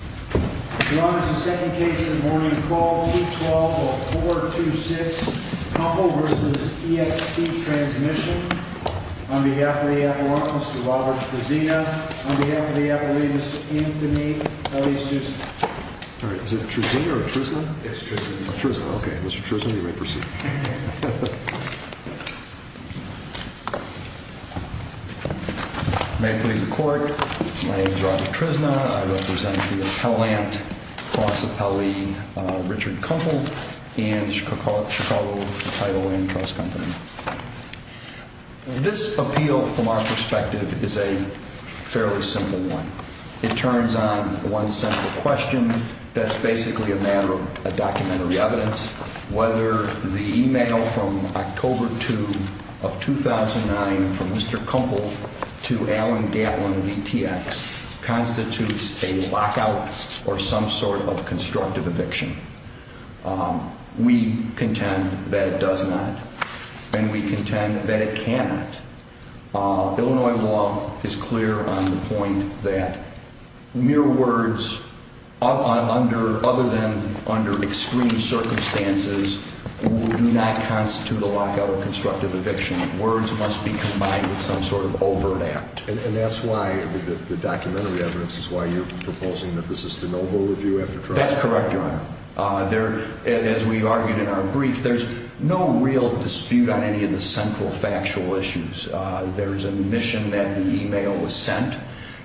Your Honor, this is the second case of the morning. Call 212-426 Kempel v. ETX Transmissions. On behalf of the Appellant, Mr. Robert Trezina. On behalf of the Appellee, Mr. Anthony L.E. Sousa. All right, is it Trezina or Trezna? It's Trezna. Trezna, okay. Mr. Trezna, you may proceed. May it please the Court, my name is Robert Trezna. I represent the Appellant, Prosepelle Richard Kempel and Chicago Title and Trust Company. This appeal, from our perspective, is a fairly simple one. It turns on one central question. That's basically a matter of documentary evidence. Whether the email from October 2 of 2009 from Mr. Kempel to Alan Gatlin v. ETX constitutes a lockout or some sort of constructive eviction. We contend that it does not. And we contend that it cannot. Illinois law is clear on the point that mere words, other than under extreme circumstances, do not constitute a lockout or constructive eviction. Words must be combined with some sort of overt act. And that's why the documentary evidence is why you're proposing that this is the no-vote review after trial? That's correct, Your Honor. As we argued in our brief, there's no real dispute on any of the central factual issues. There's admission that the email was sent.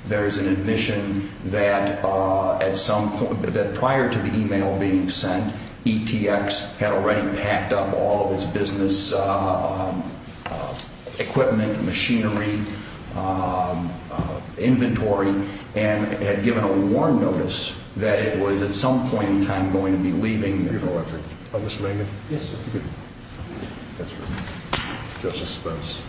There's an admission that prior to the email being sent, ETX had already packed up all of its business equipment, machinery, inventory, and had given a warn notice that it was, at some point in time, going to be leaving. Your Honor, was it? Oh, Mr. Raymond? Yes, sir. That's right. Justice Spence.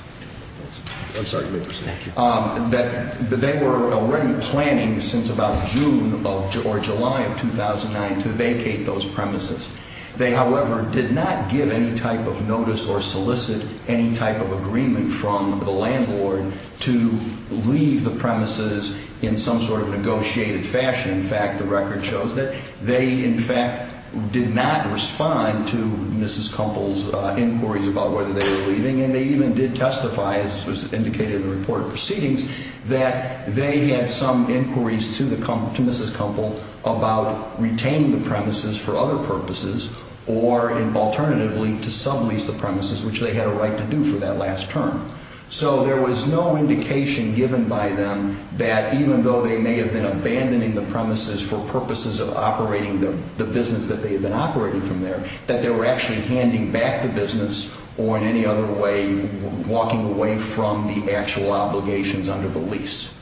I'm sorry, you may proceed. Thank you. That they were already planning since about June or July of 2009 to vacate those premises. They, however, did not give any type of notice or solicit any type of agreement from the landlord to leave the premises in some sort of negotiated fashion. In fact, the record shows that they, in fact, did not respond to Mrs. Kumpel's inquiries about whether they were leaving. And they even did testify, as was indicated in the report of proceedings, that they had some inquiries to Mrs. Kumpel about retaining the premises for other purposes, or alternatively, to sublease the premises, which they had a right to do for that last term. So there was no indication given by them that even though they may have been abandoning the premises for purposes of operating the business that they had been operating from there, that they were actually handing back the business, or in any other way, walking away from the actual obligations under the lease.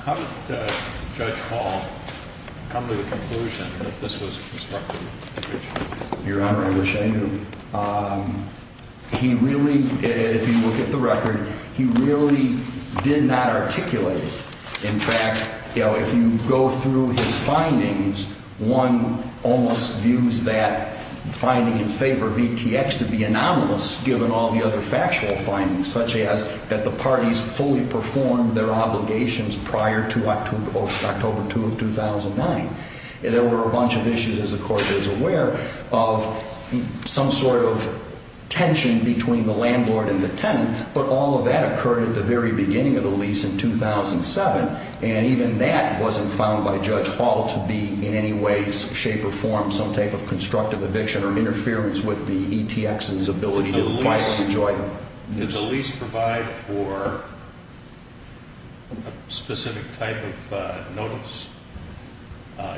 How did Judge Hall come to the conclusion that this was constructive eviction? Your Honor, I wish I knew. He really, if you look at the record, he really did not articulate it. In fact, if you go through his findings, one almost views that finding in favor of ETX to be anomalous, given all the other factual findings, such as that the parties fully performed their obligations prior to October 2 of 2009. There were a bunch of issues, as the Court is aware, of some sort of tension between the landlord and the tenant. But all of that occurred at the very beginning of the lease in 2007. And even that wasn't found by Judge Hall to be in any way, shape, or form some type of constructive eviction, or interference with the ETX's ability to apply for the joint lease. Did the lease provide for a specific type of notice,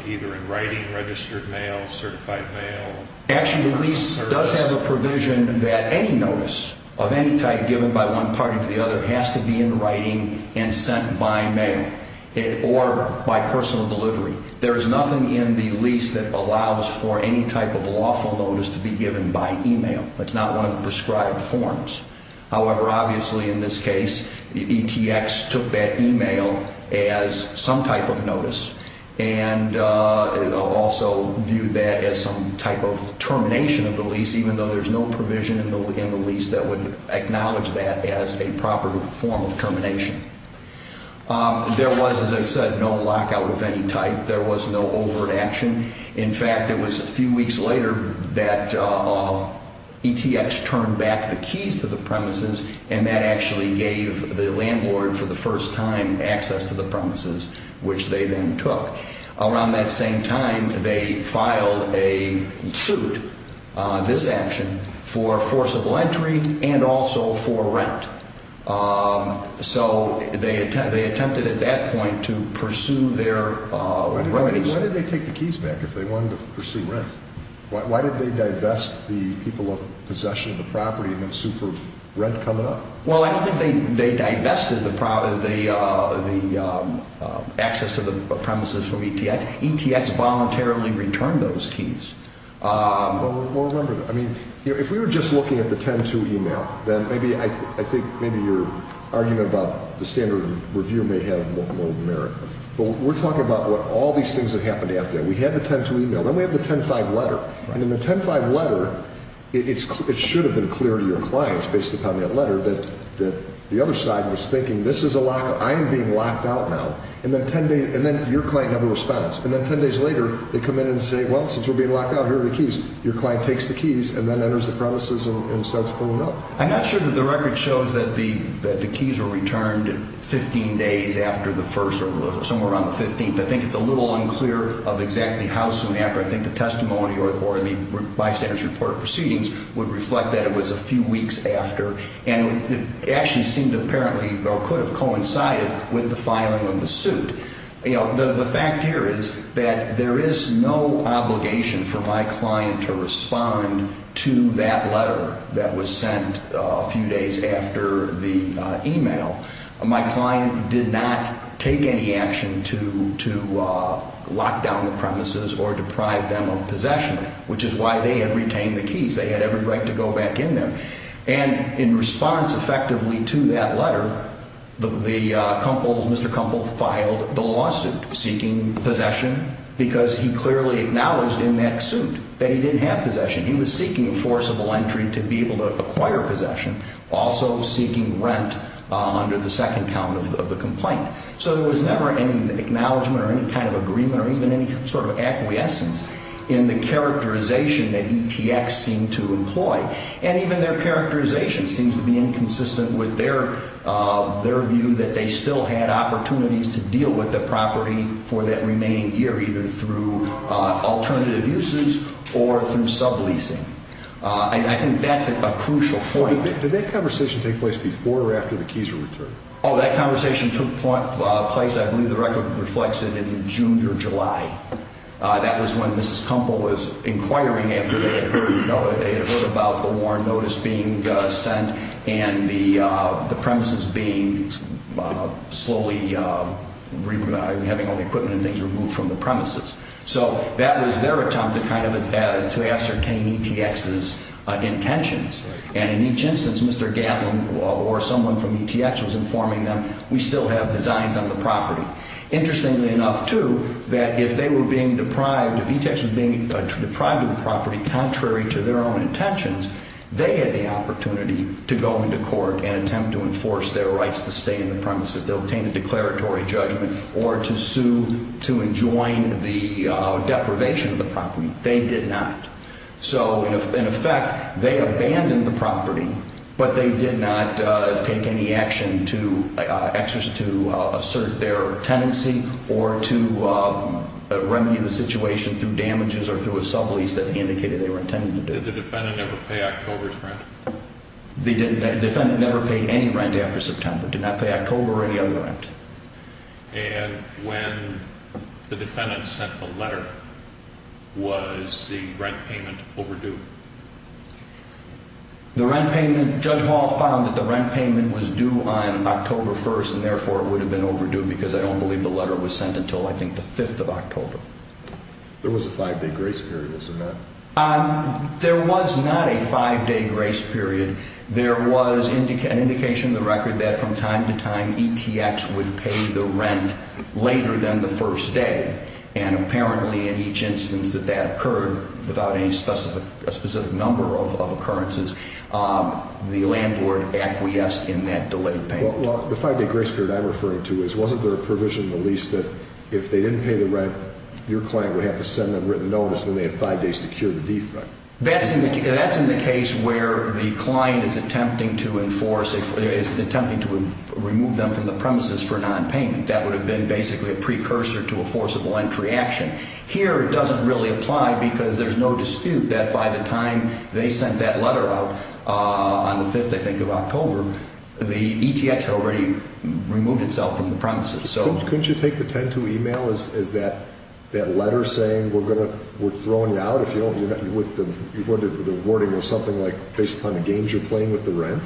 either in writing, registered mail, certified mail? Actually, the lease does have a provision that any notice of any type given by one party to the other has to be in writing and sent by mail, or by personal delivery. There is nothing in the lease that allows for any type of lawful notice to be given by email. It's not one of the prescribed forms. However, obviously in this case, the ETX took that email as some type of notice, and also viewed that as some type of termination of the lease, even though there's no provision in the lease that would acknowledge that as a proper form of termination. There was, as I said, no lockout of any type. There was no overt action. In fact, it was a few weeks later that ETX turned back the keys to the premises, and that actually gave the landlord for the first time access to the premises, which they then took. Around that same time, they filed a suit, this action, for forcible entry and also for rent. So they attempted at that point to pursue their remedies. Why did they take the keys back if they wanted to pursue rent? Why did they divest the people of possession of the property and then sue for rent coming up? Well, I don't think they divested the access to the premises from ETX. ETX voluntarily returned those keys. Well, remember that. I mean, if we were just looking at the 10-2 email, then maybe I think maybe your argument about the standard of review may have more merit. Well, we're talking about all these things that happened after that. We had the 10-2 email. Then we have the 10-5 letter. And in the 10-5 letter, it should have been clear to your clients based upon that letter that the other side was thinking, this is a lockout. I am being locked out now. And then your client never responds. And then 10 days later, they come in and say, well, since we're being locked out, here are the keys. Your client takes the keys and then enters the premises and starts cleaning up. I'm not sure that the record shows that the keys were returned 15 days after the first or somewhere around the 15th. I think it's a little unclear of exactly how soon after. I think the testimony or the bystander's report of proceedings would reflect that it was a few weeks after. And it actually seemed apparently or could have coincided with the filing of the suit. The fact here is that there is no obligation for my client to respond to that letter that was sent a few days after the email. My client did not take any action to lock down the premises or deprive them of possession, which is why they had retained the keys. They had every right to go back in there. And in response effectively to that letter, Mr. Kumpel filed the lawsuit seeking possession because he clearly acknowledged in that suit that he didn't have possession. He was seeking a forcible entry to be able to acquire possession, also seeking rent under the second count of the complaint. So there was never any acknowledgement or any kind of agreement or even any sort of acquiescence in the characterization that ETX seemed to employ. And even their characterization seems to be inconsistent with their view that they still had opportunities to deal with the property for that remaining year, either through alternative uses or through subleasing. And I think that's a crucial point. Did that conversation take place before or after the keys were returned? Oh, that conversation took place, I believe the record reflects it, in June or July. That was when Mrs. Kumpel was inquiring after they had heard about the warrant notice being sent and the premises being slowly having all the equipment and things removed from the premises. So that was their attempt to kind of ascertain ETX's intentions. And in each instance, Mr. Gatlin or someone from ETX was informing them, we still have designs on the property. Interestingly enough, too, that if they were being deprived, if ETX was being deprived of the property contrary to their own intentions, they had the opportunity to go into court and attempt to enforce their rights to stay in the premises. They'll obtain a declaratory judgment or to sue to enjoin the deprivation of the property. They did not. So in effect, they abandoned the property, but they did not take any action to assert their tenancy or to remedy the situation through damages or through a sublease that indicated they were intending to do. Did the defendant ever pay October's rent? The defendant never paid any rent after September, did not pay October or any other rent. And when the defendant sent the letter, was the rent payment overdue? The rent payment, Judge Hall found that the rent payment was due on October 1st and therefore it would have been overdue because I don't believe the letter was sent until I think the 5th of October. There was a five-day grace period, isn't there? There was not a five-day grace period. There was an indication in the record that from time to time ETX would pay the rent later than the first day. And apparently in each instance that that occurred without any specific number of occurrences, the landlord acquiesced in that delayed payment. Well, the five-day grace period I'm referring to is wasn't there a provision in the lease that if they didn't pay the rent, your client would have to send them written notice and they had five days to cure the defect? That's in the case where the client is attempting to enforce, is attempting to remove them from the premises for nonpayment. I think that would have been basically a precursor to a forcible entry action. Here it doesn't really apply because there's no dispute that by the time they sent that letter out on the 5th, I think, of October, the ETX had already removed itself from the premises. Couldn't you take the 10-2 email as that letter saying we're throwing you out if you don't, with the wording of something like based upon the games you're playing with the rent?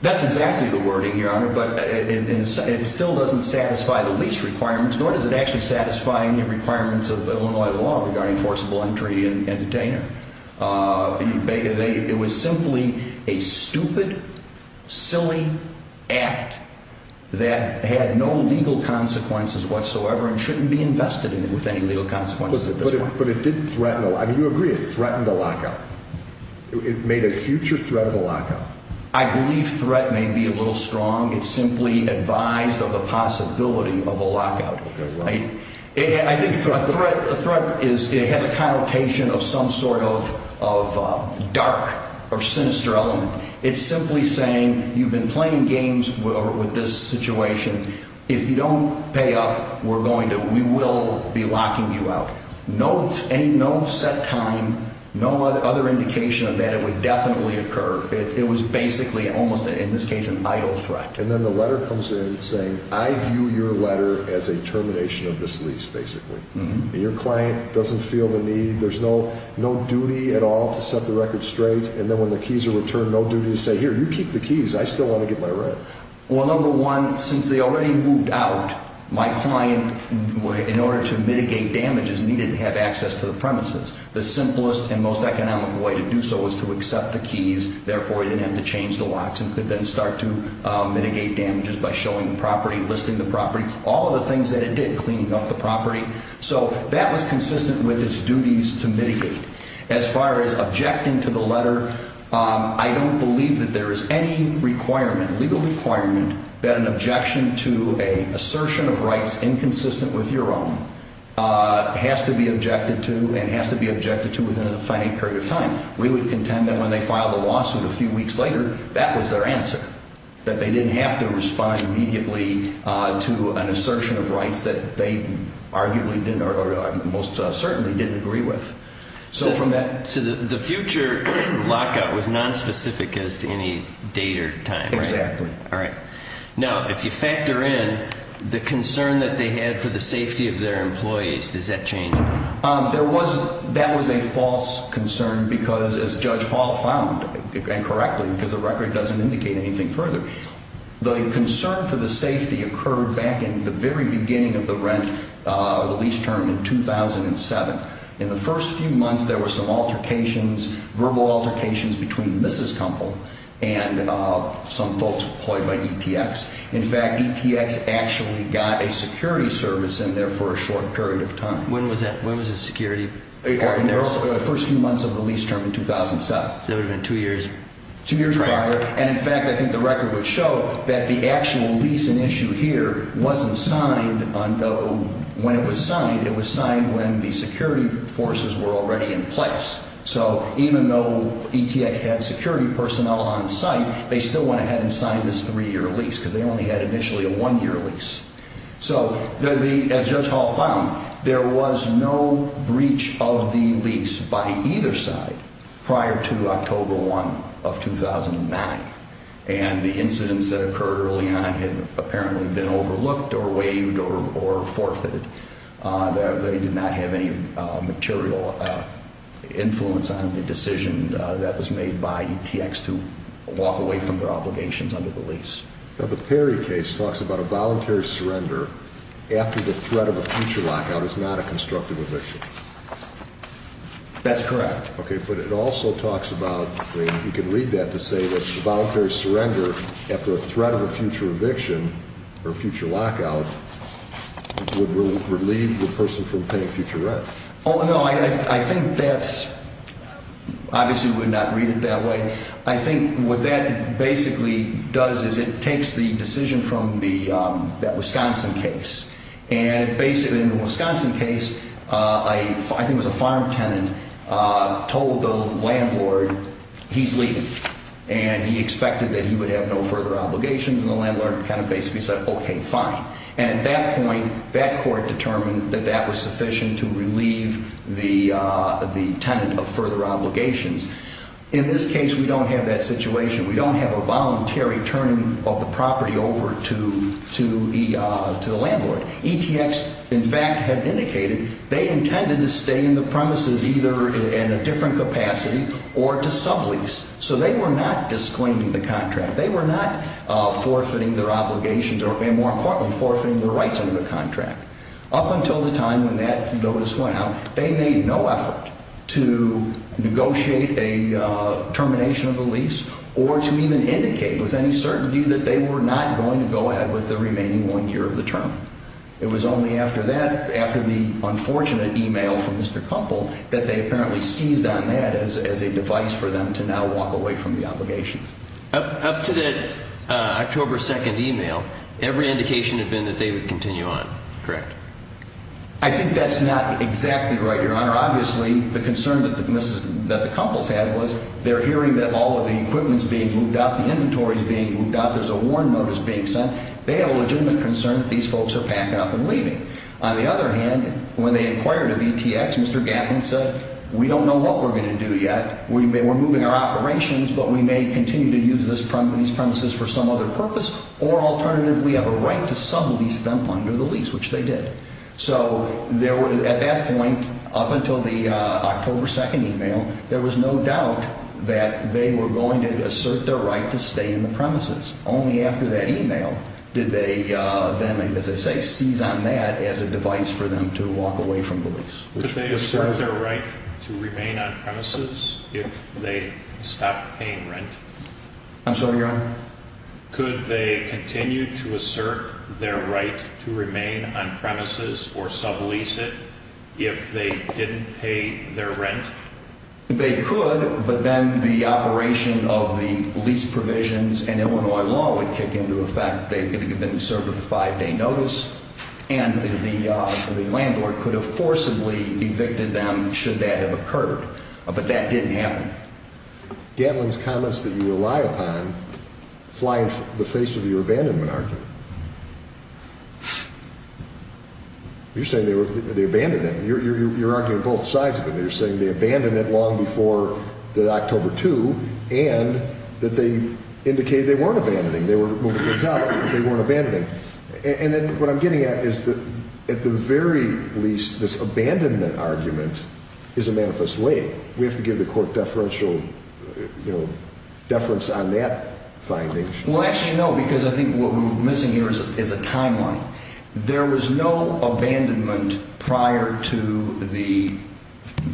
That's exactly the wording, Your Honor, but it still doesn't satisfy the lease requirements, nor does it actually satisfy any requirements of Illinois law regarding forcible entry and retainer. It was simply a stupid, silly act that had no legal consequences whatsoever and shouldn't be invested in with any legal consequences at this point. But it did threaten, I mean, you agree it threatened a lock-up. It made a future threat of a lock-up. I believe threat may be a little strong. It's simply advised of the possibility of a lock-out, right? A threat has a connotation of some sort of dark or sinister element. It's simply saying you've been playing games with this situation. If you don't pay up, we will be locking you out. No set time, no other indication of that, it would definitely occur. It was basically almost, in this case, an idle threat. And then the letter comes in saying, I view your letter as a termination of this lease, basically. And your client doesn't feel the need, there's no duty at all to set the record straight, and then when the keys are returned, no duty to say, here, you keep the keys, I still want to get my rent. Well, number one, since they already moved out, my client, in order to mitigate damages, needed to have access to the premises. The simplest and most economic way to do so was to accept the keys, therefore he didn't have to change the locks and could then start to mitigate damages by showing the property, listing the property, all of the things that it did, cleaning up the property. So that was consistent with its duties to mitigate. As far as objecting to the letter, I don't believe that there is any requirement, legal requirement, that an objection to an assertion of rights inconsistent with your own has to be objected to and has to be objected to within a finite period of time. We would contend that when they filed the lawsuit a few weeks later, that was their answer, that they didn't have to respond immediately to an assertion of rights that they arguably didn't, or most certainly didn't agree with. So from that... So the future lockout was nonspecific as to any date or time, right? Exactly. All right. Now, if you factor in the concern that they had for the safety of their employees, does that change anything? That was a false concern because, as Judge Hall found, and correctly, because the record doesn't indicate anything further, the concern for the safety occurred back in the very beginning of the lease term in 2007. In the first few months, there were some altercations, verbal altercations, between Mrs. Kumpel and some folks employed by ETX. In fact, ETX actually got a security service in there for a short period of time. When was that? When was the security? In the first few months of the lease term in 2007. So that would have been two years. Two years prior. And in fact, I think the record would show that the actual lease in issue here wasn't signed when it was signed. It was signed when the security forces were already in place. So even though ETX had security personnel on site, they still went ahead and signed this three-year lease because they only had initially a one-year lease. So, as Judge Hall found, there was no breach of the lease by either side prior to October 1 of 2009. And the incidents that occurred early on had apparently been overlooked or waived or forfeited. They did not have any material influence on the decision that was made by ETX to walk away from their obligations under the lease. Now, the Perry case talks about a voluntary surrender after the threat of a future lockout is not a constructive eviction. That's correct. Okay, but it also talks about, I mean, you can read that to say that a voluntary surrender after a threat of a future eviction or a future lockout would relieve the person from paying future rent. Oh, no, I think that's, obviously we would not read it that way. I think what that basically does is it takes the decision from that Wisconsin case. And basically in the Wisconsin case, I think it was a farm tenant told the landlord he's leaving. And he expected that he would have no further obligations, and the landlord kind of basically said, okay, fine. And at that point, that court determined that that was sufficient to relieve the tenant of further obligations. In this case, we don't have that situation. We don't have a voluntary turning of the property over to the landlord. ETX, in fact, had indicated they intended to stay in the premises either in a different capacity or to sublease. So they were not disclaiming the contract. They were not forfeiting their obligations or, more importantly, forfeiting their rights under the contract. Up until the time when that notice went out, they made no effort to negotiate a termination of the lease or to even indicate with any certainty that they were not going to go ahead with the remaining one year of the term. It was only after that, after the unfortunate e-mail from Mr. Koppel, that they apparently seized on that as a device for them to now walk away from the obligation. Up to that October 2nd e-mail, every indication had been that they would continue on, correct? I think that's not exactly right, Your Honor. Obviously, the concern that the couples had was they're hearing that all of the equipment's being moved out, the inventory's being moved out, there's a warrant notice being sent. They have a legitimate concern that these folks are packing up and leaving. On the other hand, when they inquired of ETX, Mr. Gaffney said, we don't know what we're going to do yet. We're moving our operations, but we may continue to use these premises for some other purpose. Or alternative, we have a right to sublease them under the lease, which they did. So at that point, up until the October 2nd e-mail, there was no doubt that they were going to assert their right to stay in the premises. Only after that e-mail did they then, as I say, seize on that as a device for them to walk away from the lease. Could they assert their right to remain on premises if they stopped paying rent? I'm sorry, Your Honor? Could they continue to assert their right to remain on premises or sublease it if they didn't pay their rent? They could, but then the operation of the lease provisions and Illinois law would kick into effect. They could have been served with a five-day notice, and the landlord could have forcibly evicted them should that have occurred. But that didn't happen. Gatlin's comments that you rely upon fly in the face of your abandonment argument. You're saying they abandoned it. You're arguing both sides of it. You're saying they abandoned it long before October 2, and that they indicated they weren't abandoning. They were moving things out, but they weren't abandoning. And then what I'm getting at is that at the very least, this abandonment argument is a manifest way. We have to give the court deferential, you know, deference on that finding. Well, actually, no, because I think what we're missing here is a timeline. There was no abandonment prior to the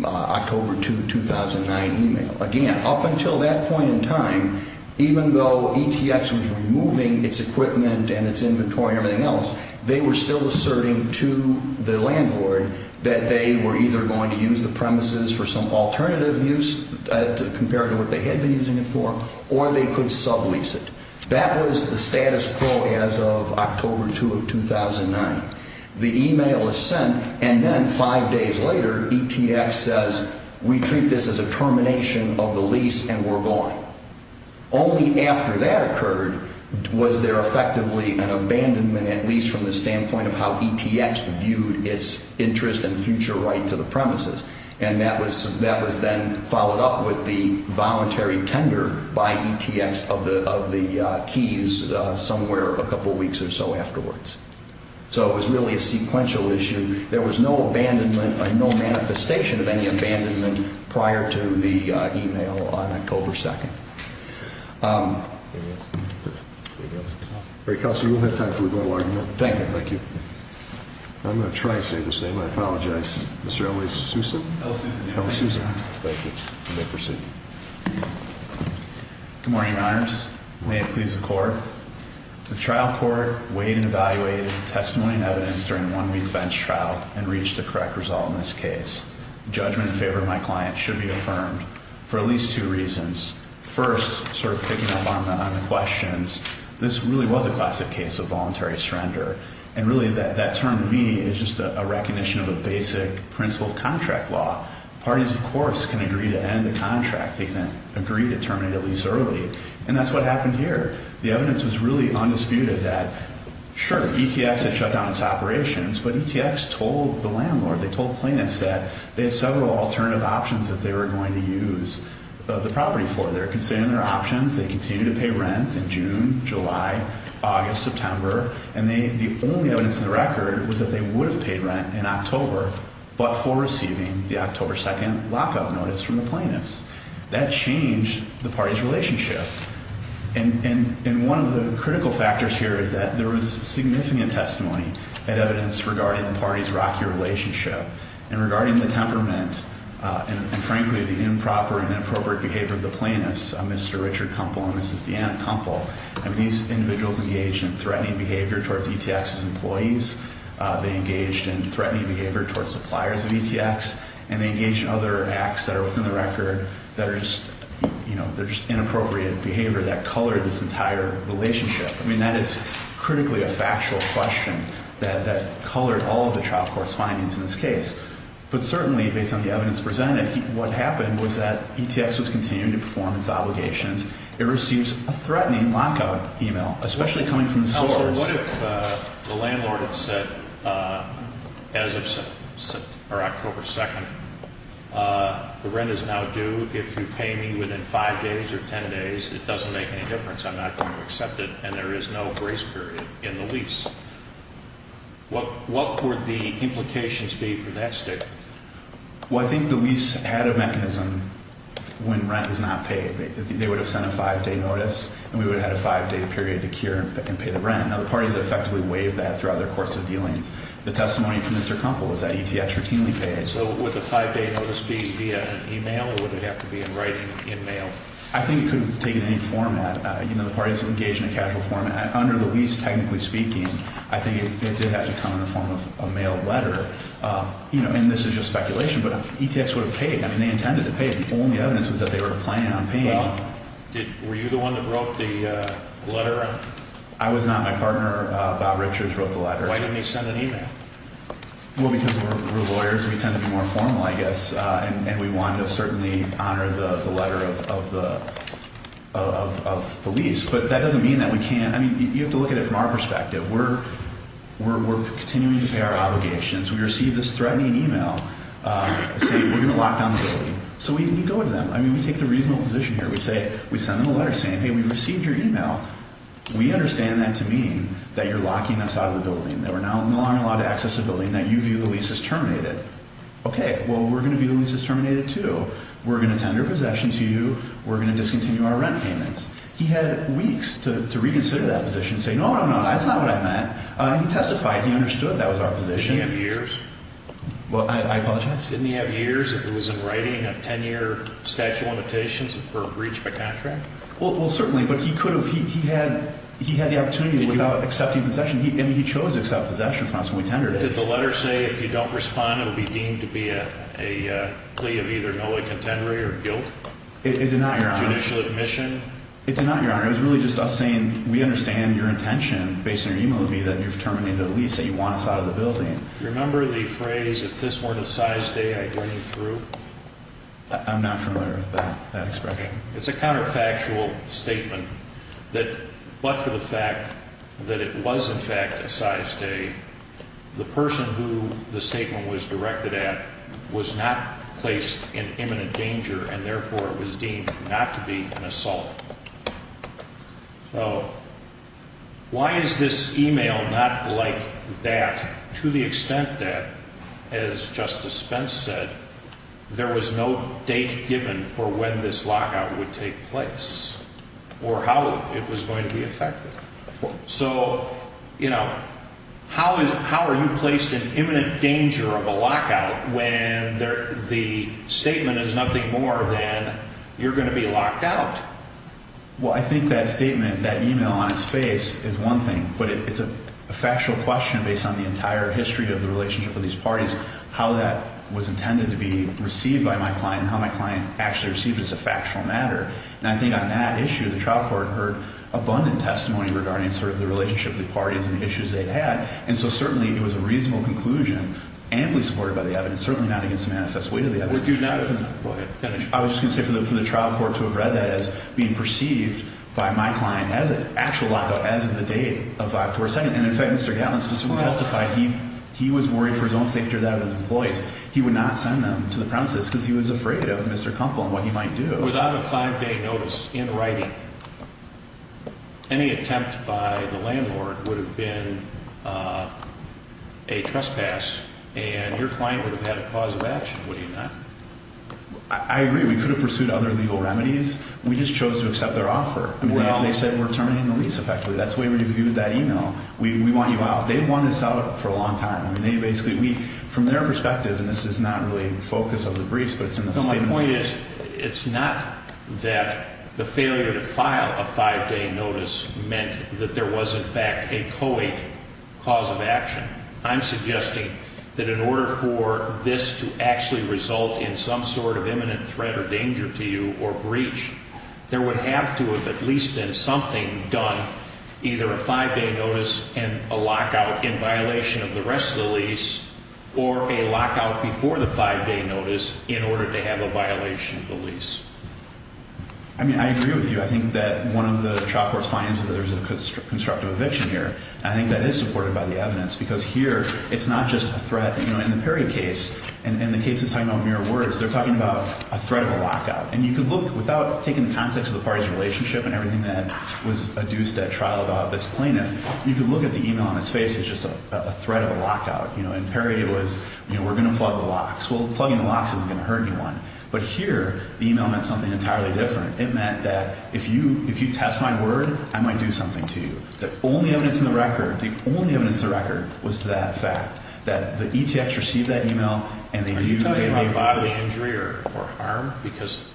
October 2, 2009 e-mail. Again, up until that point in time, even though ETX was removing its equipment and its inventory and everything else, they were still asserting to the landlord that they were either going to use the premises for some alternative use compared to what they had been using it for, or they could sublease it. That was the status quo as of October 2 of 2009. The e-mail is sent, and then five days later, ETX says, we treat this as a termination of the lease, and we're gone. Only after that occurred was there effectively an abandonment, at least from the standpoint of how ETX viewed its interest and future right to the premises, and that was then followed up with the voluntary tender by ETX of the keys somewhere a couple weeks or so afterwards. So it was really a sequential issue. There was no abandonment or no manifestation of any abandonment prior to the e-mail on October 2. Great, Counselor, we'll have time for a little argument. Thank you. Thank you. I'm going to try and say this name. I apologize. Mr. L.A. Sousa? L.A. Sousa. L.A. Sousa. Thank you. You may proceed. Good morning, Your Honors. May it please the Court. The trial court weighed and evaluated the testimony and evidence during the one-week bench trial and reached a correct result in this case. Judgment in favor of my client should be affirmed for at least two reasons. First, sort of picking up on the questions, this really was a classic case of voluntary surrender, and really that term to me is just a recognition of a basic principle of contract law. Parties, of course, can agree to end a contract. They can agree to terminate a lease early, and that's what happened here. The evidence was really undisputed that, sure, ETX had shut down its operations, but ETX told the landlord, they told plaintiffs that they had several alternative options that they were going to use the property for. They were considering their options. They continued to pay rent in June, July, August, September, and the only evidence in the record was that they would have paid rent in October, but for receiving the October 2nd lockout notice from the plaintiffs. That changed the party's relationship. And one of the critical factors here is that there was significant testimony and evidence regarding the party's rocky relationship and regarding the temperament and, frankly, the improper and inappropriate behavior of the plaintiffs, Mr. Richard Kumpel and Mrs. Deanna Kumpel. These individuals engaged in threatening behavior towards ETX's employees. They engaged in threatening behavior towards suppliers of ETX, and they engaged in other acts that are within the record that are just, you know, they're just inappropriate behavior that colored this entire relationship. I mean, that is critically a factual question that colored all of the trial court's findings in this case. But certainly, based on the evidence presented, what happened was that ETX was continuing to perform its obligations. It receives a threatening lockout email, especially coming from the source. Well, what if the landlord had said, as of October 2nd, the rent is now due. If you pay me within five days or ten days, it doesn't make any difference. I'm not going to accept it, and there is no grace period in the lease. What would the implications be for that statement? Well, I think the lease had a mechanism when rent is not paid. They would have sent a five-day notice, and we would have had a five-day period to cure and pay the rent. Now, the parties effectively waived that throughout their course of dealings. The testimony from Mr. Kumpel is that ETX routinely paid. So would the five-day notice be via email, or would it have to be in writing in mail? I think it could take any format. You know, the parties engaged in a casual format. Under the lease, technically speaking, I think it did have to come in the form of a mail letter. You know, and this is just speculation, but if ETX would have paid, I mean, they intended to pay. The only evidence was that they were planning on paying. Well, were you the one that wrote the letter? I was not. My partner, Bob Richards, wrote the letter. Why didn't he send an email? Well, because we're lawyers, and we tend to be more formal, I guess, and we wanted to certainly honor the letter of the lease. But that doesn't mean that we can't. I mean, you have to look at it from our perspective. We're continuing to pay our obligations. We received this threatening email saying we're going to lock down the building. So we go to them. I mean, we take the reasonable position here. We send them a letter saying, hey, we received your email. We understand that to mean that you're locking us out of the building, that we're now not allowed to access the building, that you view the lease as terminated. Okay, well, we're going to view the lease as terminated too. We're going to tender possession to you. We're going to discontinue our rent payments. He had weeks to reconsider that position, say, no, no, no, that's not what I meant. He testified. He understood that was our position. Didn't he have years? Well, I apologize. Didn't he have years if it was in writing, a 10-year statute of limitations for a breach of a contract? Well, certainly, but he could have. He had the opportunity without accepting possession. I mean, he chose to accept possession from us when we tendered it. Did the letter say if you don't respond, it will be deemed to be a plea of either null and contendory or guilt? It did not, Your Honor. Judicial admission? It did not, Your Honor. It was really just us saying we understand your intention, based on your email with me, that you're terminating the lease, that you want us out of the building. Do you remember the phrase, if this weren't a size day, I'd run you through? I'm not familiar with that expression. It's a counterfactual statement that, but for the fact that it was, in fact, a size day, the person who the statement was directed at was not placed in imminent danger, and therefore it was deemed not to be an assault. So why is this email not like that to the extent that, as Justice Spence said, there was no date given for when this lockout would take place or how it was going to be effected? So, you know, how are you placed in imminent danger of a lockout when the statement is nothing more than you're going to be locked out? Well, I think that statement, that email on its face is one thing, but it's a factual question based on the entire history of the relationship of these parties, how that was intended to be received by my client and how my client actually received it as a factual matter. And I think on that issue, the trial court heard abundant testimony regarding sort of the relationship of the parties and the issues they had, and so certainly it was a reasonable conclusion, amply supported by the evidence, certainly not against the manifest weight of the evidence. Would you not have, go ahead, finish. I was just going to say for the trial court to have read that as being perceived by my client as an actual lockout as of the date of October 2nd. And, in fact, Mr. Gatlin specifically testified he was worried for his own safety or that of his employees. He would not send them to the premises because he was afraid of Mr. Kumpel and what he might do. But without a five-day notice in writing, any attempt by the landlord would have been a trespass and your client would have had a cause of action, would he not? I agree. We could have pursued other legal remedies. We just chose to accept their offer. They said we're terminating the lease effectively. That's the way we reviewed that email. We want you out. They want us out for a long time. They basically, we, from their perspective, and this is not really the focus of the briefs, but it's in the statement. My point is it's not that the failure to file a five-day notice meant that there was, in fact, a co-ed cause of action. I'm suggesting that in order for this to actually result in some sort of imminent threat or danger to you or breach, there would have to have at least been something done, either a five-day notice and a lockout in violation of the rest of the lease or a lockout before the five-day notice in order to have a violation of the lease. I mean, I agree with you. I think that one of the trial court's findings is that there's a constructive eviction here. I think that is supported by the evidence because here it's not just a threat. In the Perry case, and the case is talking about mere words, they're talking about a threat of a lockout. And you could look, without taking the context of the party's relationship and everything that was adduced at trial about this plaintiff, I mean, you could look at the email on his face, it's just a threat of a lockout. In Perry, it was, you know, we're going to plug the locks. Well, plugging the locks isn't going to hurt anyone. But here, the email meant something entirely different. It meant that if you test my word, I might do something to you. The only evidence in the record, the only evidence in the record was that fact, that the ETX received that email. Are you talking about bodily injury or harm? Because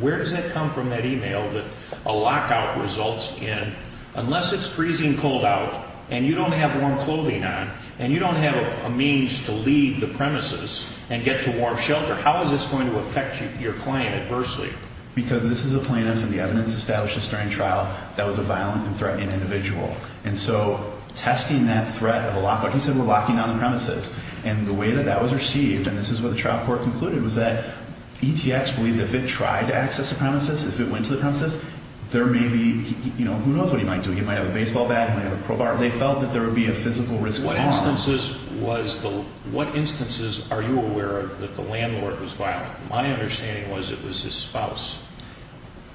where does that come from, that email, that a lockout results in, unless it's freezing cold out, and you don't have warm clothing on, and you don't have a means to leave the premises and get to warm shelter, how is this going to affect your client adversely? Because this is a plaintiff and the evidence established during trial that was a violent and threatening individual. And so testing that threat of a lockout, he said we're locking down the premises. And the way that that was received, and this is what the trial court concluded, was that ETX believed if it tried to access the premises, if it went to the premises, there may be, you know, who knows what he might do. He might have a baseball bat. He might have a crowbar. They felt that there would be a physical risk of harm. What instances was the, what instances are you aware of that the landlord was violent? My understanding was it was his spouse.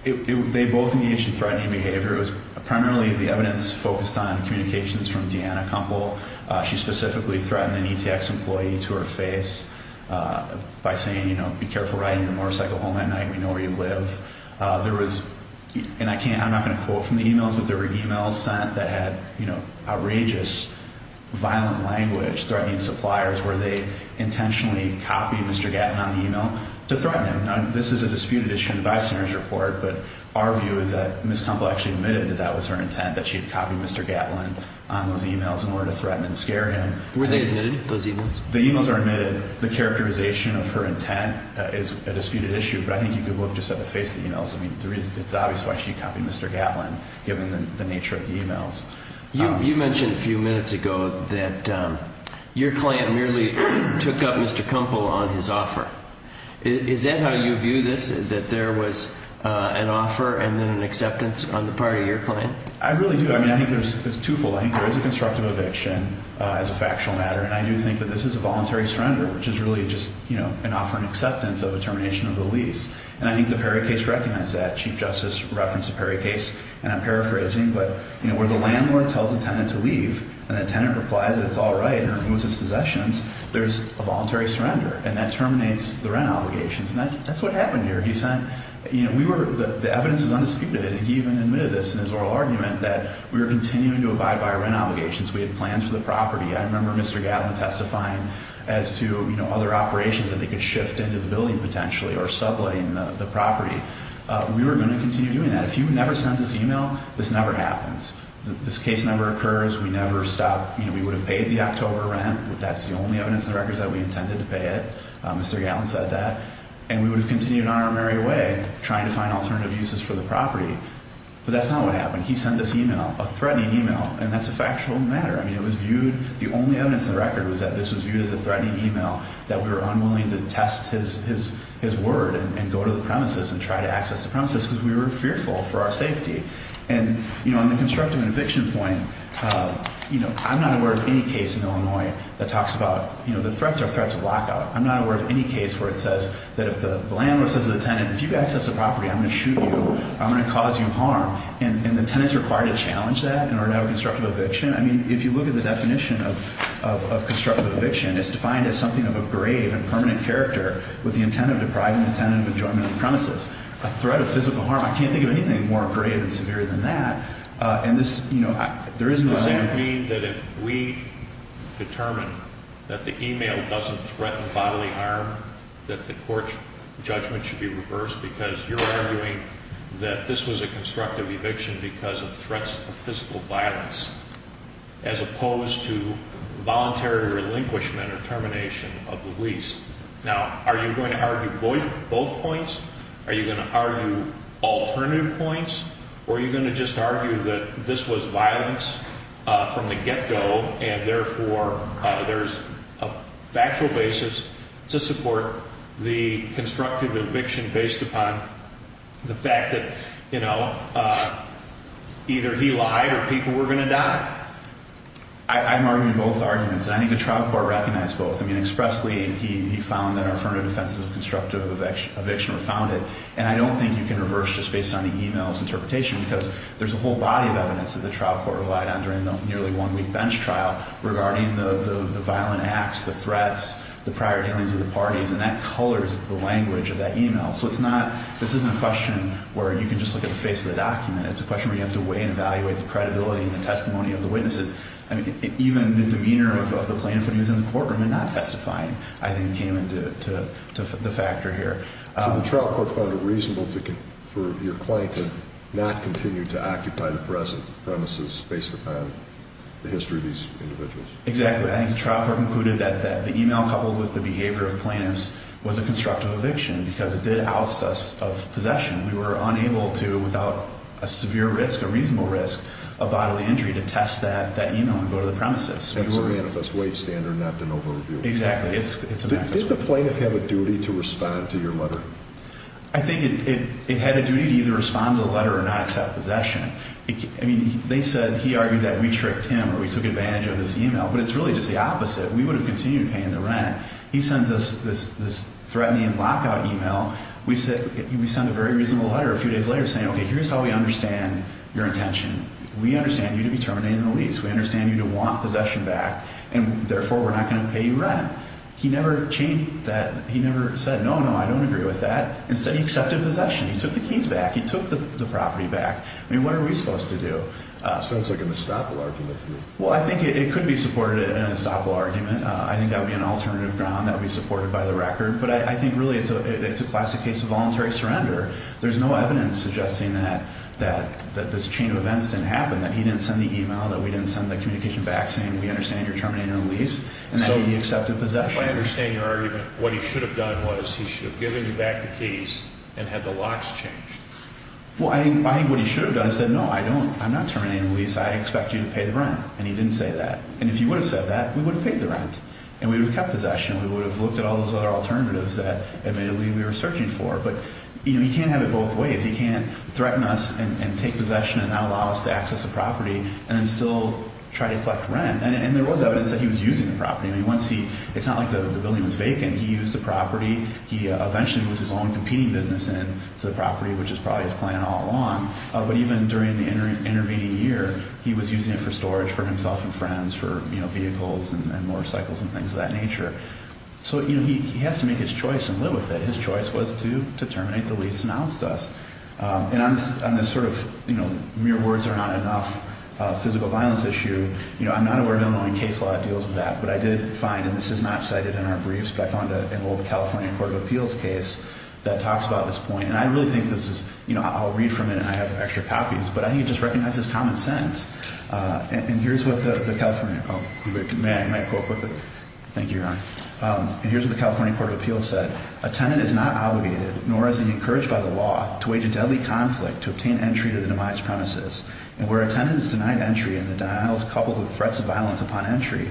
They both engaged in threatening behavior. It was primarily the evidence focused on communications from Deanna Kumpel. She specifically threatened an ETX employee to her face by saying, you know, be careful riding your motorcycle home at night. We know where you live. There was, and I can't, I'm not going to quote from the e-mails, but there were e-mails sent that had, you know, outrageous, violent language threatening suppliers where they intentionally copied Mr. Gatlin on the e-mail to threaten him. Now, this is a disputed issue in the Vice Senator's report, but our view is that Ms. Kumpel actually admitted that that was her intent, that she had copied Mr. Gatlin on those e-mails in order to threaten and scare him. Were they admitted, those e-mails? The e-mails are admitted. The characterization of her intent is a disputed issue, but I think you could look just at the face of the e-mails. I mean, it's obvious why she copied Mr. Gatlin given the nature of the e-mails. You mentioned a few minutes ago that your client merely took up Mr. Kumpel on his offer. Is that how you view this, that there was an offer and then an acceptance on the part of your client? I really do. I mean, I think there's twofold. I think there is a constructive eviction as a factual matter, and I do think that this is a voluntary surrender, which is really just an offer and acceptance of a termination of the lease, and I think the Perry case recognized that. Chief Justice referenced the Perry case, and I'm paraphrasing, but, you know, where the landlord tells the tenant to leave and the tenant replies that it's all right and removes his possessions, there's a voluntary surrender, and that terminates the rent obligations, and that's what happened here. You know, the evidence is undisputed, and he even admitted this in his oral argument, that we were continuing to abide by our rent obligations. We had plans for the property. I remember Mr. Gatlin testifying as to, you know, other operations that they could shift into the building potentially or subletting the property. We were going to continue doing that. If you never send this e-mail, this never happens. This case never occurs. We never stop. You know, we would have paid the October rent. That's the only evidence in the records that we intended to pay it. Mr. Gatlin said that. And we would have continued on our merry way trying to find alternative uses for the property. But that's not what happened. He sent this e-mail, a threatening e-mail, and that's a factual matter. I mean, it was viewed, the only evidence in the record was that this was viewed as a threatening e-mail, that we were unwilling to test his word and go to the premises and try to access the premises because we were fearful for our safety. And, you know, on the constructive eviction point, you know, I'm not aware of any case in Illinois that talks about, you know, the threats are threats of lockout. I'm not aware of any case where it says that if the landlord says to the tenant, if you access the property, I'm going to shoot you. I'm going to cause you harm. And the tenant is required to challenge that in order to have a constructive eviction. I mean, if you look at the definition of constructive eviction, it's defined as something of a grave and permanent character with the intent of depriving the tenant of enjoyment on the premises. A threat of physical harm, I can't think of anything more grave and severe than that. And this, you know, there is no way. Does that mean that if we determine that the e-mail doesn't threaten bodily harm, that the court's judgment should be reversed because you're arguing that this was a constructive eviction because of threats of physical violence as opposed to voluntary relinquishment or termination of the lease? Now, are you going to argue both points? Are you going to argue alternative points? Or are you going to just argue that this was violence from the get-go and, therefore, there's a factual basis to support the constructive eviction based upon the fact that, you know, either he lied or people were going to die? I'm arguing both arguments, and I think the trial court recognized both. I mean, expressly, he found that our affirmative defenses of constructive eviction were founded, and I don't think you can reverse just based on the e-mail's interpretation because there's a whole body of evidence that the trial court relied on during the nearly one-week bench trial regarding the violent acts, the threats, the prior dealings of the parties, and that colors the language of that e-mail. So it's not – this isn't a question where you can just look at the face of the document. It's a question where you have to weigh and evaluate the credibility and the testimony of the witnesses. I mean, even the demeanor of the plaintiff when he was in the courtroom and not testifying, I think, came into the factor here. So the trial court found it reasonable for your client to not continue to occupy the present premises based upon the history of these individuals? Exactly. I think the trial court concluded that the e-mail coupled with the behavior of plaintiffs was a constructive eviction because it did oust us of possession. We were unable to, without a severe risk, a reasonable risk of bodily injury, to test that e-mail and go to the premises. It's a manifest way standard not to overreview. Exactly. It's a manifest way standard. Did the plaintiff have a duty to respond to your letter? I think it had a duty to either respond to the letter or not accept possession. I mean, they said – he argued that we tricked him or we took advantage of this e-mail, but it's really just the opposite. We would have continued paying the rent. He sends us this threatening lockout e-mail. We send a very reasonable letter a few days later saying, okay, here's how we understand your intention. We understand you to be terminating the lease. We understand you to want possession back, and therefore we're not going to pay you rent. He never changed that. He never said, no, no, I don't agree with that. Instead, he accepted possession. He took the keys back. He took the property back. I mean, what are we supposed to do? Sounds like an estoppel argument to me. Well, I think it could be supported in an estoppel argument. I think that would be an alternative ground that would be supported by the record. But I think really it's a classic case of voluntary surrender. There's no evidence suggesting that this chain of events didn't happen, that he didn't send the e-mail, that we didn't send the communication back saying, we understand you're terminating the lease, and that he accepted possession. If I understand your argument, what he should have done was he should have given you back the keys and had the locks changed. Well, I think what he should have done is said, no, I don't, I'm not terminating the lease. I expect you to pay the rent, and he didn't say that. And if he would have said that, we would have paid the rent, and we would have kept possession, and we would have looked at all those other alternatives that admittedly we were searching for. But, you know, he can't have it both ways. He can't threaten us and take possession and not allow us to access the property and then still try to collect rent. And there was evidence that he was using the property. I mean, once he, it's not like the building was vacant. He used the property. He eventually moved his own competing business into the property, which is probably his plan all along. But even during the intervening year, he was using it for storage for himself and friends, for, you know, vehicles and motorcycles and things of that nature. So, you know, he has to make his choice and live with it. His choice was to terminate the lease announced to us. And on this sort of, you know, mere words are not enough physical violence issue, you know, I'm not aware of Illinois case law that deals with that. But I did find, and this is not cited in our briefs, but I found an old California Court of Appeals case that talks about this point. And I really think this is, you know, I'll read from it, and I have extra copies, but I think it just recognizes common sense. And here's what the California, oh, may I quote quickly? Thank you, Your Honor. And here's what the California Court of Appeals said. A tenant is not obligated, nor is he encouraged by the law, to wage a deadly conflict to obtain entry to the demise premises. And where a tenant is denied entry and the denial is coupled with threats of violence upon entry,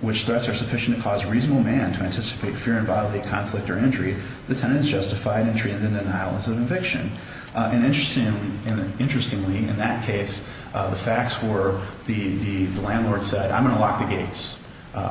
which threats are sufficient to cause a reasonable man to anticipate fear and bodily conflict or injury, the tenant is justified entry and the denial is an eviction. And interestingly, in that case, the facts were the landlord said, I'm going to lock the gates.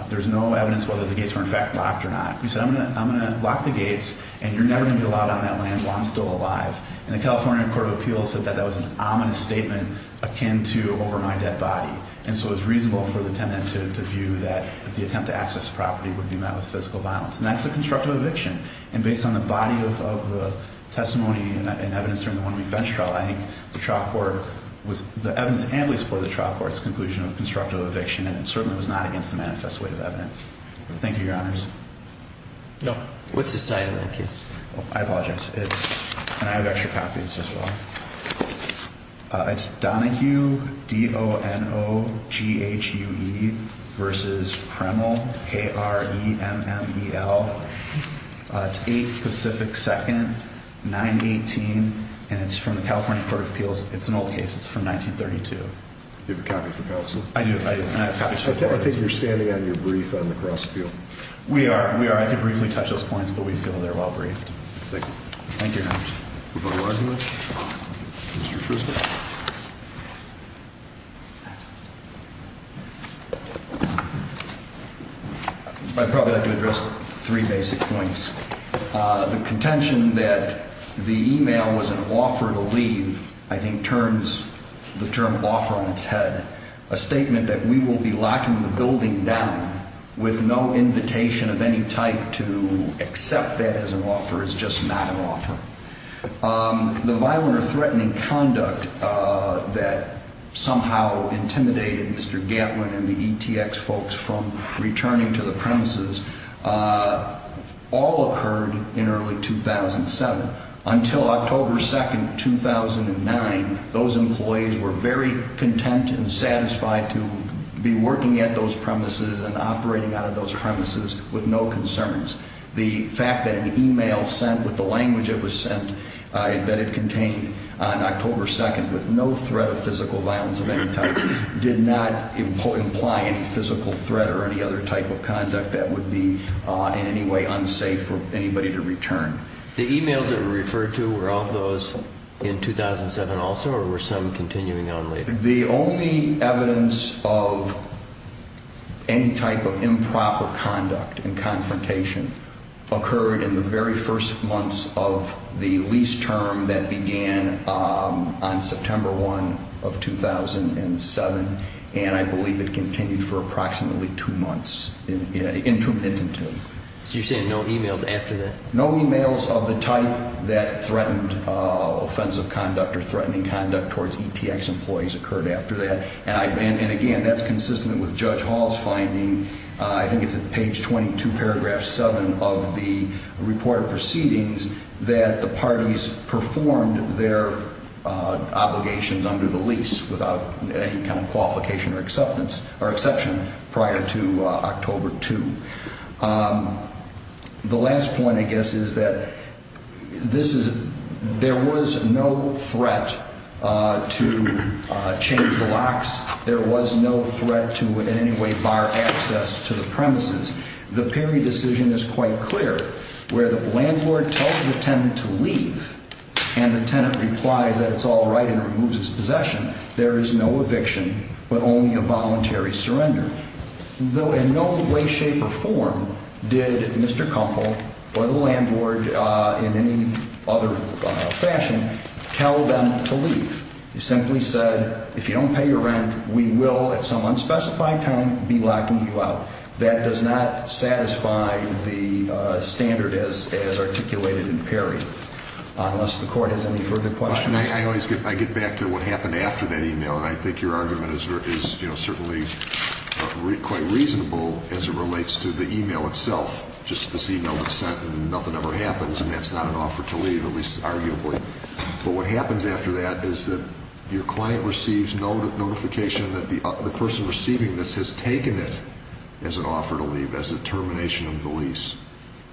There's no evidence whether the gates were in fact locked or not. He said, I'm going to lock the gates and you're never going to be allowed on that land while I'm still alive. And the California Court of Appeals said that that was an ominous statement akin to over my dead body. And so it was reasonable for the tenant to view that the attempt to access property would be met with physical violence. And that's a constructive eviction. And based on the body of the testimony and evidence during the one-week bench trial, I think the trial court was, the evidence and the support of the trial court's conclusion of constructive eviction, and it certainly was not against the manifest weight of evidence. Thank you, Your Honors. No. What's the site of the case? I apologize. It's, and I have extra copies as well. It's Donahue, D-O-N-O-G-H-U-E versus Kremel, K-R-E-M-M-E-L. It's 8 Pacific 2nd, 918, and it's from the California Court of Appeals. It's an old case. It's from 1932. Do you have a copy for counsel? I do. I think you're standing on your brief on the cross appeal. We are. We are. I can briefly touch those points, but we feel they're well briefed. Thank you. Thank you, Your Honors. Prosecutor Argulich. I'd probably like to address three basic points. The contention that the e-mail was an offer to leave, I think, turns the term offer on its head. A statement that we will be locking the building down with no invitation of any type to accept that as an offer is just not an offer. The violent or threatening conduct that somehow intimidated Mr. Gatlin and the ETX folks from returning to the premises all occurred in early 2007. Until October 2nd, 2009, those employees were very content and satisfied to be working at those premises and operating out of those premises with no concerns. The fact that an e-mail sent with the language it was sent, that it contained on October 2nd with no threat of physical violence of any type, did not imply any physical threat or any other type of conduct that would be in any way unsafe for anybody to return. The e-mails that were referred to were all those in 2007 also or were some continuing on later? The only evidence of any type of improper conduct and confrontation occurred in the very first months of the lease term that began on September 1 of 2007, and I believe it continued for approximately two months intermittently. So you're saying no e-mails after that? No e-mails of the type that threatened offensive conduct or threatening conduct towards ETX employees occurred after that, and again, that's consistent with Judge Hall's finding. I think it's at page 22, paragraph 7 of the report of proceedings that the parties performed their obligations under the lease without any kind of qualification or exception prior to October 2. The last point, I guess, is that there was no threat to change the locks. There was no threat to in any way bar access to the premises. The Perry decision is quite clear. Where the landlord tells the tenant to leave and the tenant replies that it's all right and removes its possession, there is no eviction but only a voluntary surrender. In no way, shape, or form did Mr. Kumpel or the landlord in any other fashion tell them to leave. He simply said, if you don't pay your rent, we will at some unspecified time be locking you out. That does not satisfy the standard as articulated in Perry, unless the Court has any further questions. I get back to what happened after that e-mail, and I think your argument is certainly quite reasonable as it relates to the e-mail itself. Just this e-mail that's sent and nothing ever happens, and that's not an offer to leave, at least arguably. But what happens after that is that your client receives notification that the person receiving this has taken it as an offer to leave, as a termination of the lease,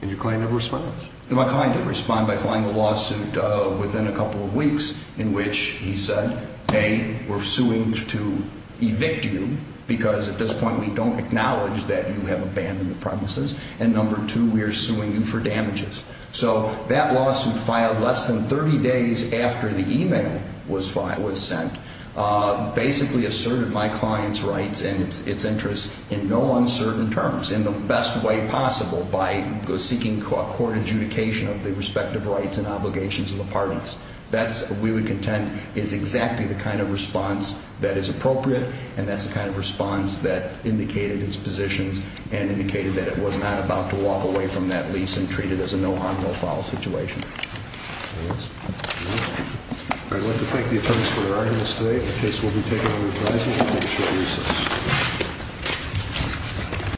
and your client never responds. My client did respond by filing a lawsuit within a couple of weeks in which he said, A, we're suing to evict you because at this point we don't acknowledge that you have abandoned the premises, and number two, we are suing you for damages. So that lawsuit filed less than 30 days after the e-mail was sent basically asserted my client's rights and its interests in no uncertain terms, in the best way possible, by seeking court adjudication of the respective rights and obligations of the parties. That's, we would contend, is exactly the kind of response that is appropriate, and that's the kind of response that indicated its positions and indicated that it was not about to walk away from that lease and treat it as a no harm, no foul situation. I'd like to thank the attorneys for their arguments today. The case will be taken under advisement. I'll make sure to use this.